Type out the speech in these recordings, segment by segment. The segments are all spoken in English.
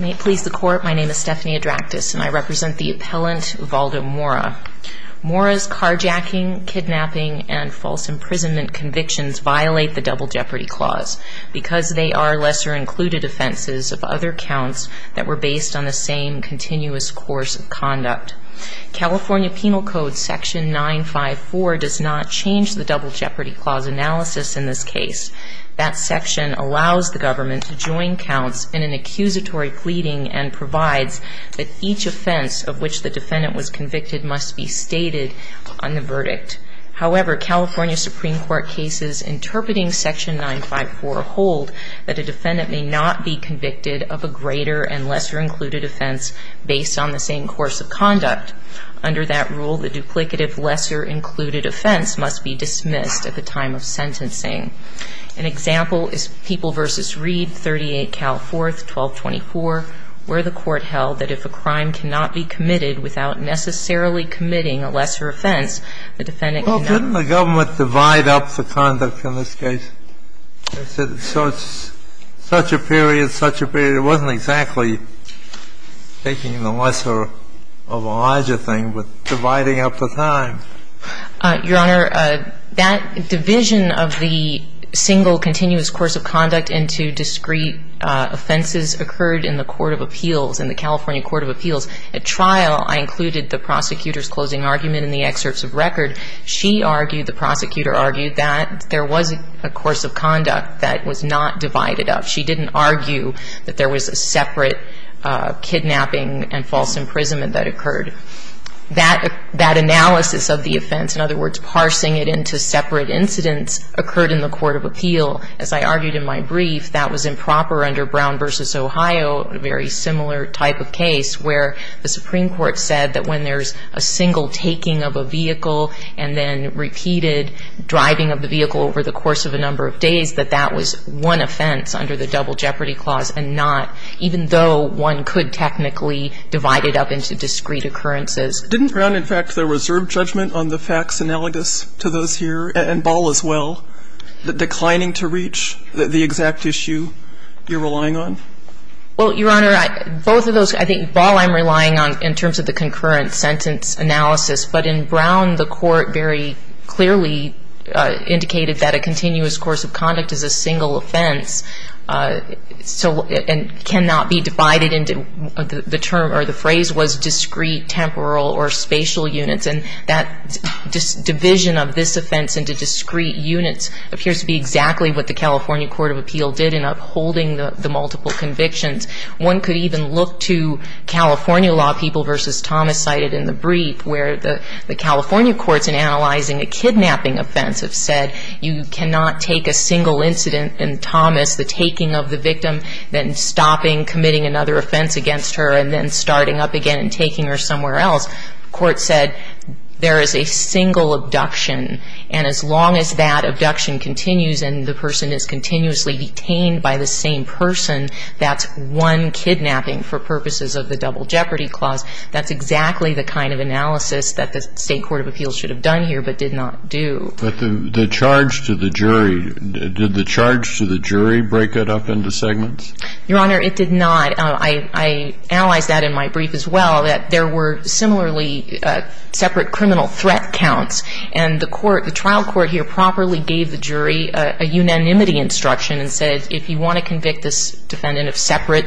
May it please the court, my name is Stephanie Adractis and I represent the appellant Valdo Mora. Mora's carjacking, kidnapping, and false imprisonment convictions violate the Double Jeopardy Clause because they are lesser included offenses of other counts that were based on the same continuous course of conduct. California Penal Code section 954 does not change the Double Jeopardy Clause analysis in this case. That section allows the government to join counts in an accusatory pleading and provides that each offense of which the defendant was convicted must be stated on the verdict. However, California Supreme Court cases interpreting section 954 hold that a defendant may not be convicted of a greater and lesser included offense based on the same course of conduct. Under that rule, the duplicative lesser included offense must be dismissed at the time of sentencing. An example is People v. Reed, 38 Cal 4th, 1224, where the court held that if a crime cannot be committed without necessarily committing a lesser offense, the defendant cannot be convicted. Well, couldn't the government divide up the conduct in this case? So it's such a period, such a period. It wasn't exactly taking the lesser of a larger thing, but dividing up the time. Your Honor, that division of the single continuous course of conduct into discrete offenses occurred in the Court of Appeals, in the California Court of Appeals. At trial, I included the prosecutor's closing argument in the excerpts of record. She argued, the prosecutor argued, that there was a course of conduct that was not divided up. She didn't argue that there was a separate kidnapping and false imprisonment that occurred. That analysis of the offense, in other words, parsing it into separate incidents, occurred in the Court of Appeal. As I argued in my brief, that was improper under Brown v. Ohio, a very similar type of case, where the Supreme Court said that when there's a single taking of a vehicle and then repeated driving of the vehicle over the course of a number of days, that that was one offense under the Double Jeopardy Clause and not, even though one could technically divide it up into discrete occurrences. Didn't Brown, in fact, the reserve judgment on the facts analogous to those here, and Ball as well, declining to reach the exact issue you're relying on? Well, Your Honor, both of those, I think Ball I'm relying on in terms of the concurrent sentence analysis. But in Brown, the Court very clearly indicated that a continuous course of conduct is a single offense and cannot be divided into the term or the phrase was discrete, temporal, or spatial units. And that division of this offense into discrete units appears to be exactly what the One could even look to California law people v. Thomas cited in the brief where the California courts in analyzing a kidnapping offense have said you cannot take a single incident, and Thomas, the taking of the victim, then stopping, committing another offense against her, and then starting up again and taking her somewhere else. The Court said there is a single abduction, and as long as that abduction continues and the person is continuously detained by the same person, that's one kidnapping for purposes of the double jeopardy clause. That's exactly the kind of analysis that the State Court of Appeals should have done here but did not do. But the charge to the jury, did the charge to the jury break it up into segments? Your Honor, it did not. I analyzed that in my brief as well, that there were similarly separate criminal threat counts. And the trial court here properly gave the jury a unanimity instruction and said if you want to convict this defendant of separate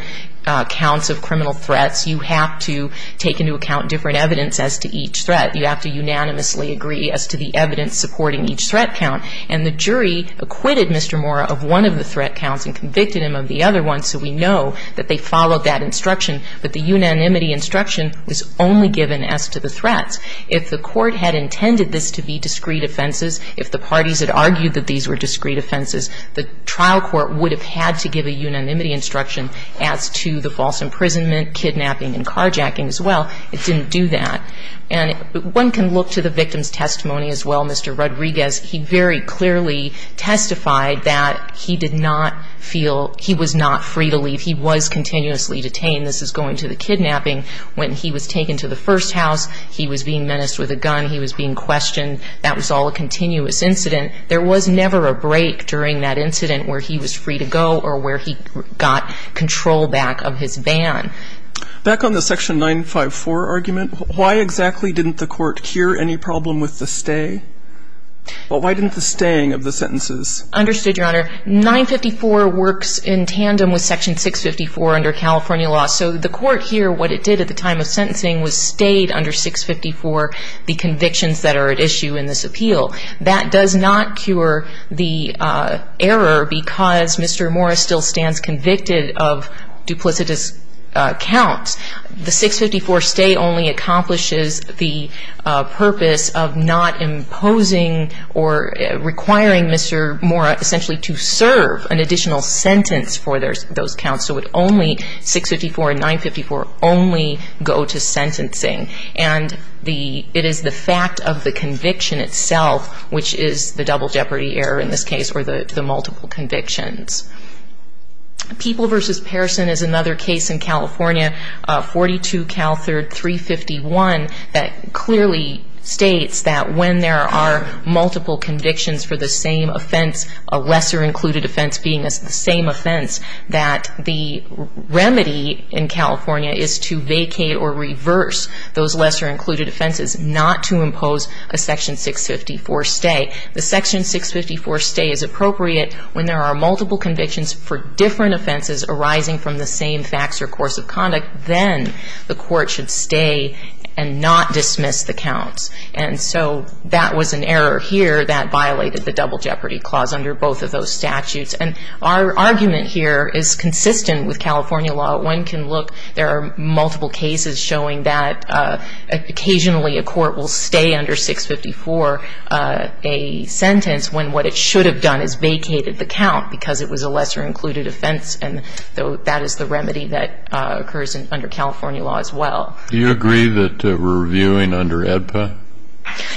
counts of criminal threats, you have to take into account different evidence as to each threat. You have to unanimously agree as to the evidence supporting each threat count. And the jury acquitted Mr. Mora of one of the threat counts and convicted him of the other one so we know that they followed that instruction. But the unanimity instruction was only given as to the threats. If the court had intended this to be discrete offenses, if the parties had argued that these were discrete offenses, the trial court would have had to give a unanimity instruction as to the false imprisonment, kidnapping and carjacking as well. It didn't do that. And one can look to the victim's testimony as well. Mr. Rodriguez, he very clearly testified that he did not feel he was not free to leave. He was continuously detained. This is going to the kidnapping. When he was taken to the first house, he was being menaced with a gun. He was being questioned. That was all a continuous incident. There was never a break during that incident where he was free to go or where he got control back of his van. Back on the section 954 argument, why exactly didn't the court cure any problem with the stay? Well, why didn't the staying of the sentences? Understood, Your Honor. 954 works in tandem with section 654 under California law. So the court here, what it did at the time of sentencing was stayed under 654 the convictions that are at issue in this appeal. That does not cure the error because Mr. Mora still stands convicted of duplicitous counts. The 654 stay only accomplishes the purpose of not imposing or requiring Mr. Mora essentially to serve an additional sentence for those counts. So it only, 654 and 954 only go to sentencing. And it is the fact of the conviction itself which is the double jeopardy error in this case or the multiple convictions. People versus Pearson is another case in California, 42 Cal 351 that clearly states that when there are multiple convictions for the same offense, a lesser included offense being the same offense, that the remedy in California is to vacate or reverse those lesser included offenses, not to impose a section 654 stay. The section 654 stay is appropriate when there are multiple convictions for different offenses arising from the same facts or course of conduct. Then the court should stay and not dismiss the counts. And so that was an error here that violated the double jeopardy clause under both of those statutes. And our argument here is consistent with California law. One can look, there are multiple cases showing that occasionally a court will stay under 654 a sentence when what it should have done is vacated the count because it was a lesser included offense. And that is the remedy that occurs under California law as well. Do you agree that we're reviewing under AEDPA?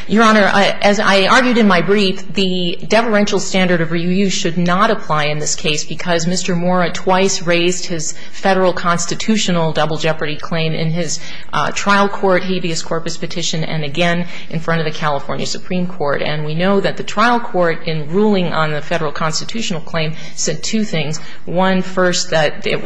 Your Honor, as I argued in my brief, the deferential standard of review should not apply in this case because Mr. Mora twice raised his Federal constitutional double jeopardy claim in his trial court habeas corpus petition and again in front of the California Supreme Court. And we know that the trial court in ruling on the Federal constitutional claim said two things. One, first, that it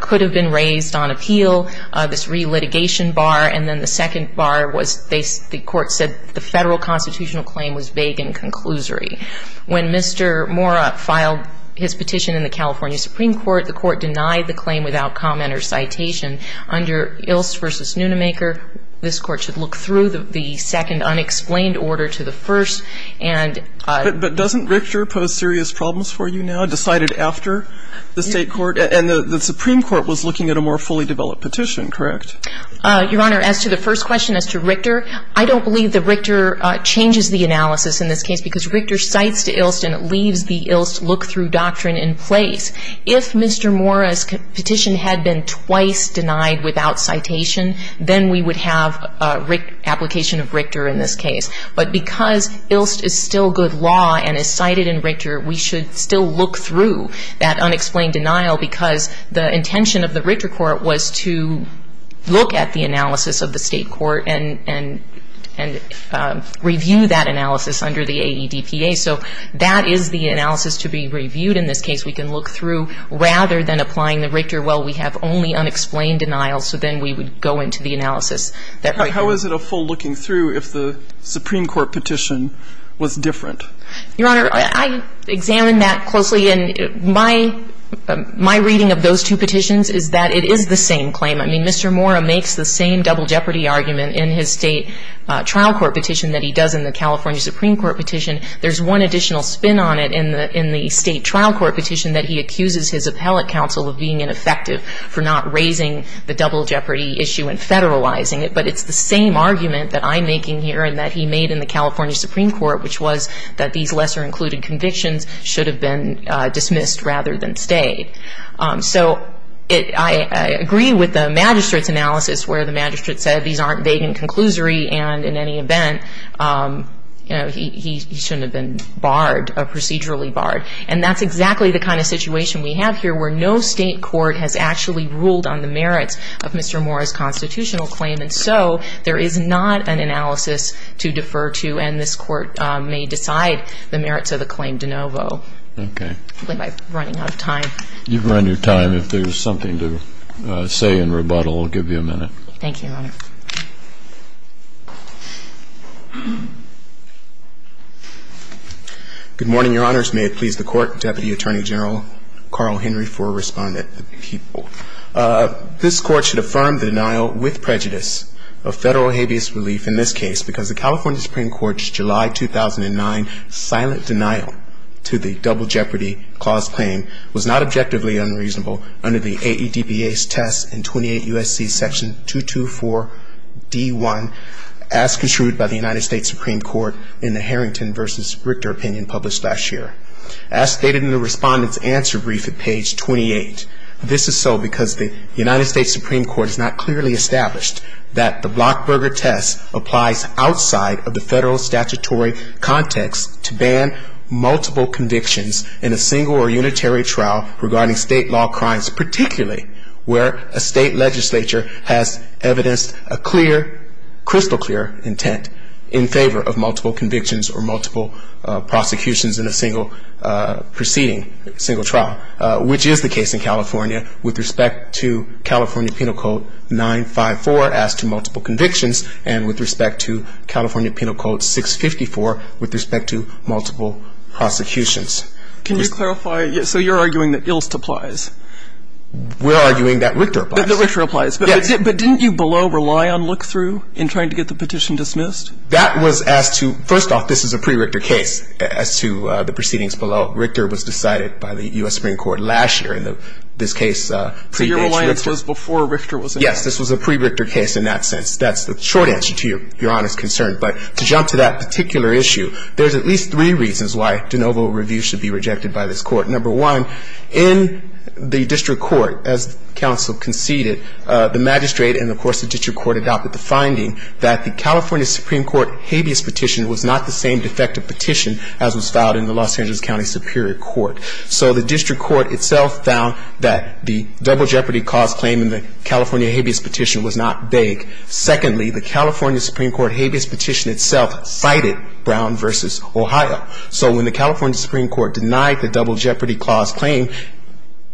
could have been raised on appeal, this relitigation bar. And then the second bar was the court said the Federal constitutional claim was vague and conclusory. When Mr. Mora filed his petition in the California Supreme Court, the court denied the claim without comment or citation. Under Ilst v. Nunemaker, this Court should look through the second unexplained order to the first and ---- But doesn't Richter pose serious problems for you now, decided after the State Court? And the Supreme Court was looking at a more fully developed petition, correct? Your Honor, as to the first question as to Richter, I don't believe that Richter changes the analysis in this case because Richter cites to Ilst and it leaves the Ilst look-through doctrine in place. If Mr. Mora's petition had been twice denied without citation, then we would have application of Richter in this case. But because Ilst is still good law and is cited in Richter, we should still look through that unexplained denial because the intention of the Richter Court was to look at the analysis of the State Court and review that analysis under the AEDPA. So that is the analysis to be reviewed in this case. We can look through, rather than applying the Richter, well, we have only unexplained denials, so then we would go into the analysis that Richter. How is it a full looking through if the Supreme Court petition was different? Your Honor, I examined that closely. And my reading of those two petitions is that it is the same claim. I mean, Mr. Mora makes the same double jeopardy argument in his State trial court petition that he does in the California Supreme Court petition. There's one additional spin on it in the State trial court petition that he accuses his appellate counsel of being ineffective for not raising the double jeopardy issue and federalizing it. But it's the same argument that I'm making here and that he made in the California Supreme Court, which was that these lesser included convictions should have been dismissed rather than stayed. So I agree with the magistrate's analysis where the magistrate said these aren't vague in conclusory and in any event, he shouldn't have been barred or procedurally barred. And that's exactly the kind of situation we have here where no State court has actually ruled on the merits of Mr. Mora's constitutional claim. And so there is not an analysis to defer to and this court may decide the merits of the claim de novo. Okay. I'm running out of time. You've run your time. If there's something to say in rebuttal, I'll give you a minute. Thank you, Your Honor. Good morning, Your Honors. May it please the Court, Deputy Attorney General Carl Henry for a respondent. This Court should affirm the denial with prejudice of federal habeas relief in this case because the California Supreme Court's July 2009 silent denial to the double jeopardy clause claim was not objectively unreasonable under the AEDPA's test in 28 U.S.C. section 224D1 as construed by the United States Supreme Court in the Harrington v. Richter opinion published last year. As stated in the respondent's answer brief at page 28, this is so because the United States Supreme Court has not clearly established that the Blockberger test applies outside of the federal statutory context to ban multiple convictions in a single or unitary trial regarding state law crimes, particularly where a state legislature has evidenced a clear, crystal clear intent in favor of multiple convictions or multiple prosecutions in a single proceeding, single trial, which is the case in California with respect to California Penal Code 954 as to multiple convictions and with respect to California Penal Code 654 with respect to multiple prosecutions. Can you clarify? So you're arguing that Ilst applies. We're arguing that Richter applies. That Richter applies. Yes. But didn't you below rely on look-through in trying to get the petition dismissed? That was as to, first off, this is a pre-Richter case as to the proceedings below. Richter was decided by the U.S. Supreme Court last year in this case. So your reliance was before Richter was enacted. Yes, this was a pre-Richter case in that sense. That's the short answer to Your Honor's concern. But to jump to that particular issue, there's at least three reasons why de novo review should be rejected by this Court. Number one, in the district court, as counsel conceded, the magistrate and, of course, the district court adopted the finding that the California Supreme Court habeas petition was not the same defective petition as was filed in the Los Angeles County Superior Court. So the district court itself found that the double jeopardy cause claim in the state habeas petition was not vague. Secondly, the California Supreme Court habeas petition itself cited Brown v. Ohio. So when the California Supreme Court denied the double jeopardy clause claim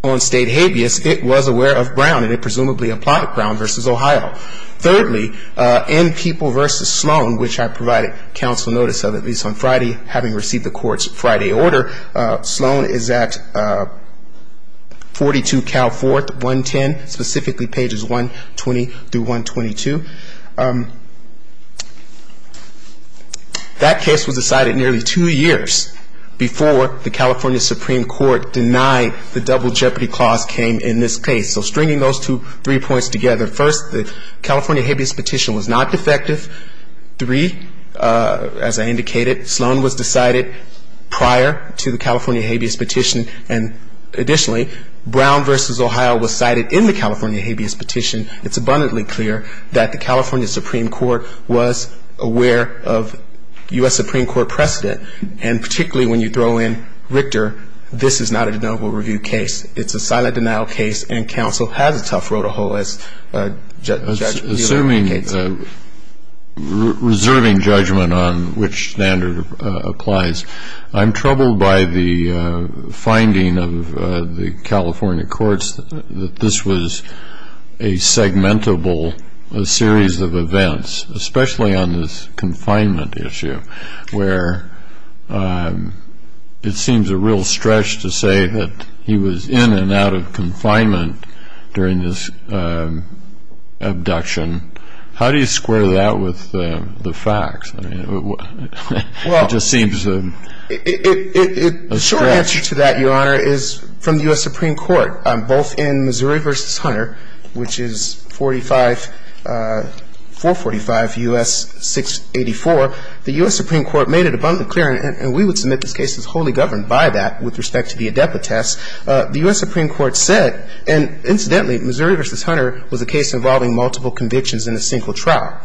on state habeas, it was aware of Brown, and it presumably applied Brown v. Ohio. Thirdly, in People v. Sloan, which I provided counsel notice of, at least on Friday, having received the Court's Friday order, Sloan is at 42 Cal 4th, 110, specifically pages 120 through 122. That case was decided nearly two years before the California Supreme Court denied the double jeopardy clause claim in this case. So stringing those three points together, first, the California habeas petition was not defective. Three, as I indicated, Sloan was decided prior to the California habeas petition. And additionally, Brown v. Ohio was cited in the California habeas petition. It's abundantly clear that the California Supreme Court was aware of U.S. Supreme Court precedent. And particularly when you throw in Richter, this is not a denial-of-review case. It's a silent denial case, and counsel has a tough road to hoe as the other advocates. Reserving judgment on which standard applies, I'm troubled by the finding of the California courts that this was a segmentable series of events, especially on this confinement issue, where it seems a real stretch to say that he was in and out of confinement during this abduction. How do you square that with the facts? I mean, it just seems a stretch. Well, the short answer to that, Your Honor, is from the U.S. Supreme Court, both in Missouri v. Hunter, which is 445 U.S. 684. The U.S. Supreme Court made it abundantly clear, and we would submit this case is wholly governed by that with respect to the adepti tests. The U.S. Supreme Court said, and incidentally, Missouri v. Hunter, in a single trial,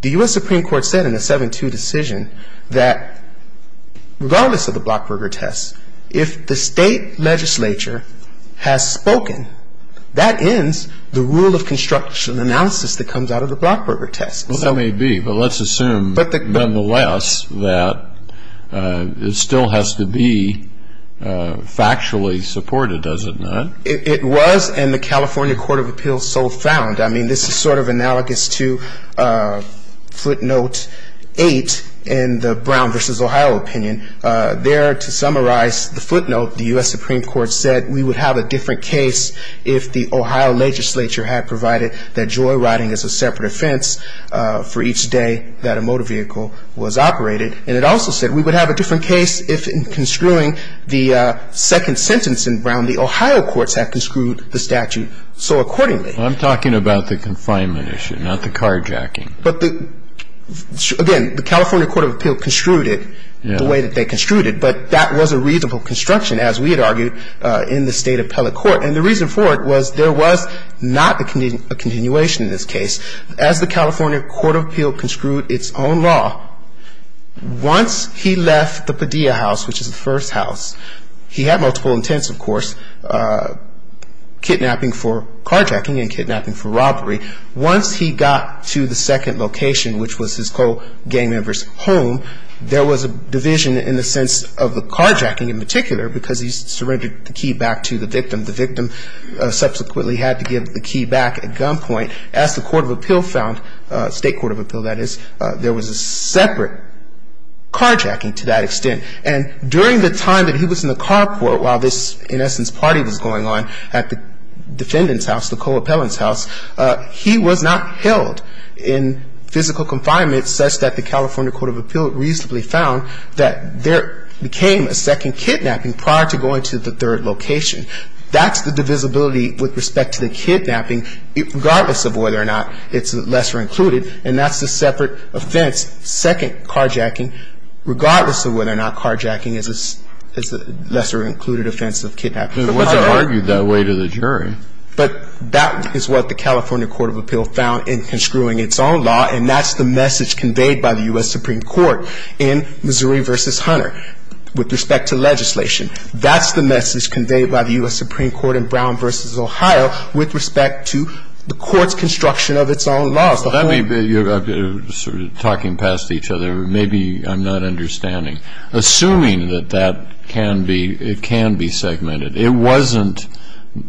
the U.S. Supreme Court said in a 7-2 decision that regardless of the Blackberger test, if the state legislature has spoken, that ends the rule of construction analysis that comes out of the Blackberger test. Well, that may be, but let's assume, nonetheless, that it still has to be factually supported, does it not? It was, and the California court of appeals so found. I mean, this is sort of analogous to footnote 8 in the Brown v. Ohio opinion. There, to summarize the footnote, the U.S. Supreme Court said we would have a different case if the Ohio legislature had provided that joyriding is a separate offense for each day that a motor vehicle was operated. And it also said we would have a different case if, in construing the second sentence in Brown, the Ohio courts had construed the statute so accordingly. I'm talking about the confinement issue, not the carjacking. But the, again, the California court of appeals construed it the way that they construed it, but that was a reasonable construction, as we had argued, in the state appellate court. And the reason for it was there was not a continuation in this case. As the California court of appeals construed its own law, once he left the Padilla house, which is the first house, he had multiple intents, of course, kidnapping for carjacking and kidnapping for robbery. Once he got to the second location, which was his co-gang member's home, there was a division in the sense of the carjacking in particular because he surrendered the key back to the victim. The victim subsequently had to give the key back at gunpoint. As the court of appeal found, state court of appeal, that is, there was a separate carjacking to that extent. And during the time that he was in the carport while this, in essence, party was going on at the defendant's house, the co-appellant's house, he was not held in physical confinement such that the California court of appeal reasonably found that there became a second kidnapping prior to going to the third location. That's the divisibility with respect to the kidnapping, regardless of whether or not it's lesser included, and that's a separate offense, second carjacking, regardless of whether or not carjacking is a lesser included offense of kidnapping. It wasn't argued that way to the jury. But that is what the California court of appeal found in construing its own law, and that's the message conveyed by the U.S. Supreme Court in Missouri v. Hunter with respect to legislation. That's the message conveyed by the U.S. Supreme Court in Brown v. Ohio with respect to the court's construction of its own laws. You're sort of talking past each other. Maybe I'm not understanding. Assuming that that can be, it can be segmented, it wasn't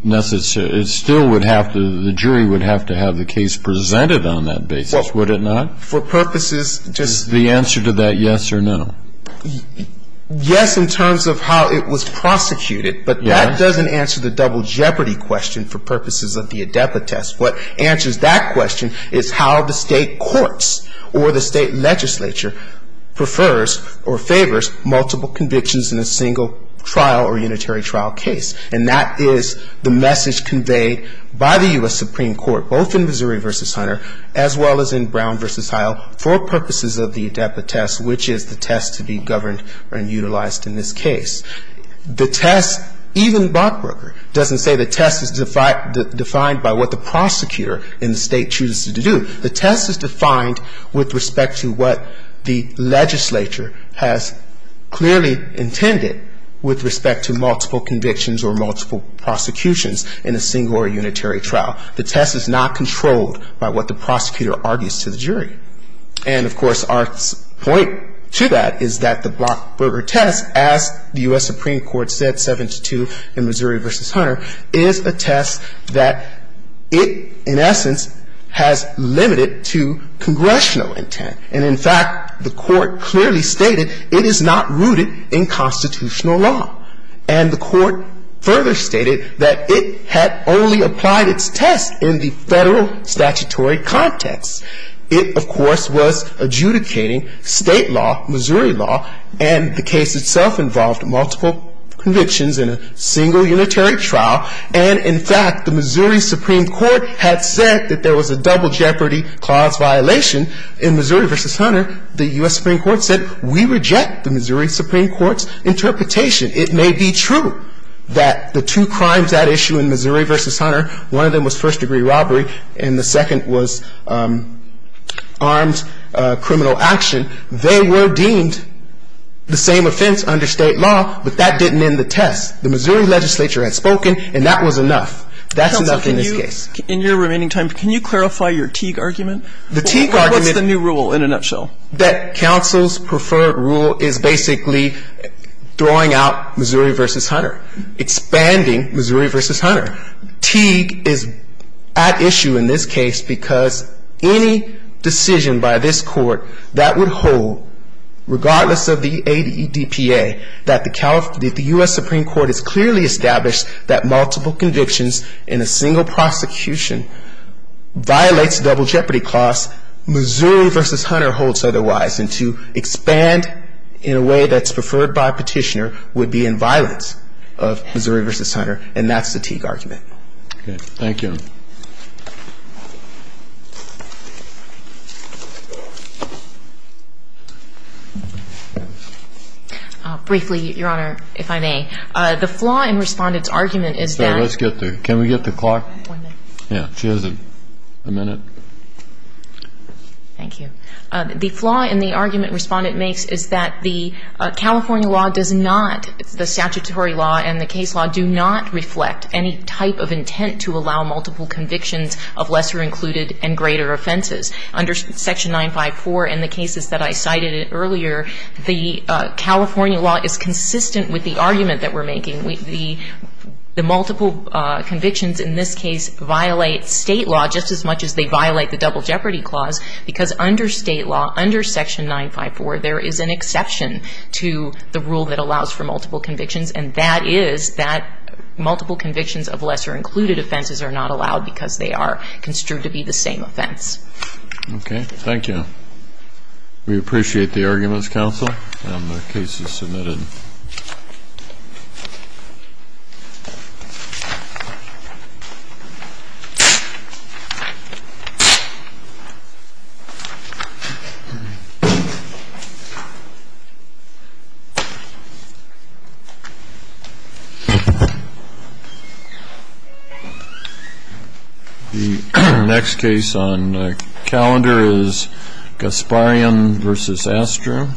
necessary, it still would have to, the jury would have to have the case presented on that basis, would it not? For purposes, just. The answer to that yes or no. Yes, in terms of how it was prosecuted, but that doesn't answer the double jeopardy question for purposes of the Adepa test. What answers that question is how the state courts or the state legislature prefers or favors multiple convictions in a single trial or unitary trial case. And that is the message conveyed by the U.S. Supreme Court, both in Missouri v. Hunter, as well as in Brown v. Ohio, for purposes of the Adepa test, which is the test to be governed and utilized in this case. The test, even Bachberger, doesn't say the test is defined by what the prosecutor in the state chooses to do. The test is defined with respect to what the legislature has clearly intended with respect to multiple convictions or multiple prosecutions in a single or unitary trial. The test is not controlled by what the prosecutor argues to the jury. And, of course, our point to that is that the Bachberger test, as the U.S. Supreme Court said, 7-2 in Missouri v. Hunter, is a test that it, in essence, has limited to congressional intent. And, in fact, the Court clearly stated it is not rooted in constitutional law. And the Court further stated that it had only applied its test in the federal statutory context. It, of course, was adjudicating state law, Missouri law, and the case itself involved multiple convictions in a single unitary trial. And, in fact, the Missouri Supreme Court had said that there was a double jeopardy clause violation in Missouri v. Hunter. The U.S. Supreme Court said we reject the Missouri Supreme Court's interpretation. It may be true that the two crimes at issue in Missouri v. Hunter, one of them was first-degree robbery and the second was armed criminal action. They were deemed the same offense under state law, but that didn't end the test. The Missouri legislature had spoken, and that was enough. That's enough in this case. In your remaining time, can you clarify your Teague argument? The Teague argument What's the new rule in a nutshell? That counsel's preferred rule is basically throwing out Missouri v. Hunter, expanding Missouri v. Hunter. Teague is at issue in this case because any decision by this Court that would hold, regardless of the ADEPA, that the U.S. Supreme Court has clearly established that multiple convictions in a single prosecution violates double jeopardy clause, Missouri v. Hunter holds otherwise. And to expand in a way that's preferred by a petitioner would be in violence of Missouri v. Hunter, and that's the Teague argument. Thank you. Briefly, Your Honor, if I may, the flaw in Respondent's argument is that Let's get there. Can we get the clock? One minute. Yeah, she has a minute. Thank you. The flaw in the argument Respondent makes is that the California law does not, the statutory law and the case law do not reflect any type of intent to allow multiple convictions of lesser included and greater offenses. Under Section 954 and the cases that I cited earlier, the California law is consistent with the argument that we're making. The multiple convictions in this case violate State law just as much as they violate the double jeopardy clause because under State law, under Section 954, there is an intent to allow multiple convictions, and that is that multiple convictions of lesser included offenses are not allowed because they are construed to be the same offense. Okay. Thank you. We appreciate the arguments, counsel, and the case is submitted. The next case on the calendar is Gasparian v. Astor.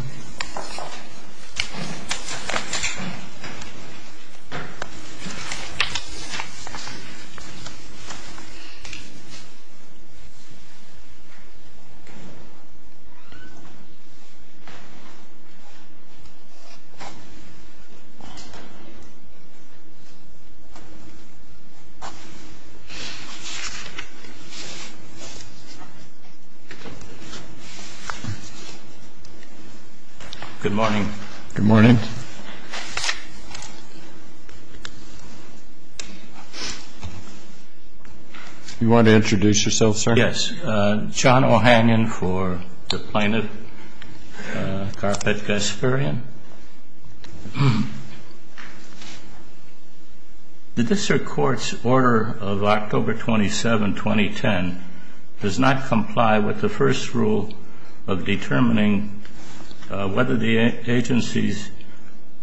Good morning. Good morning. You want to introduce yourself, sir? Yes. I'm John Ohanian for the plaintiff, Carpet Gasparian. The district court's order of October 27, 2010, does not comply with the first rule of determining whether the agency's, the agency's, the agency's, the agency's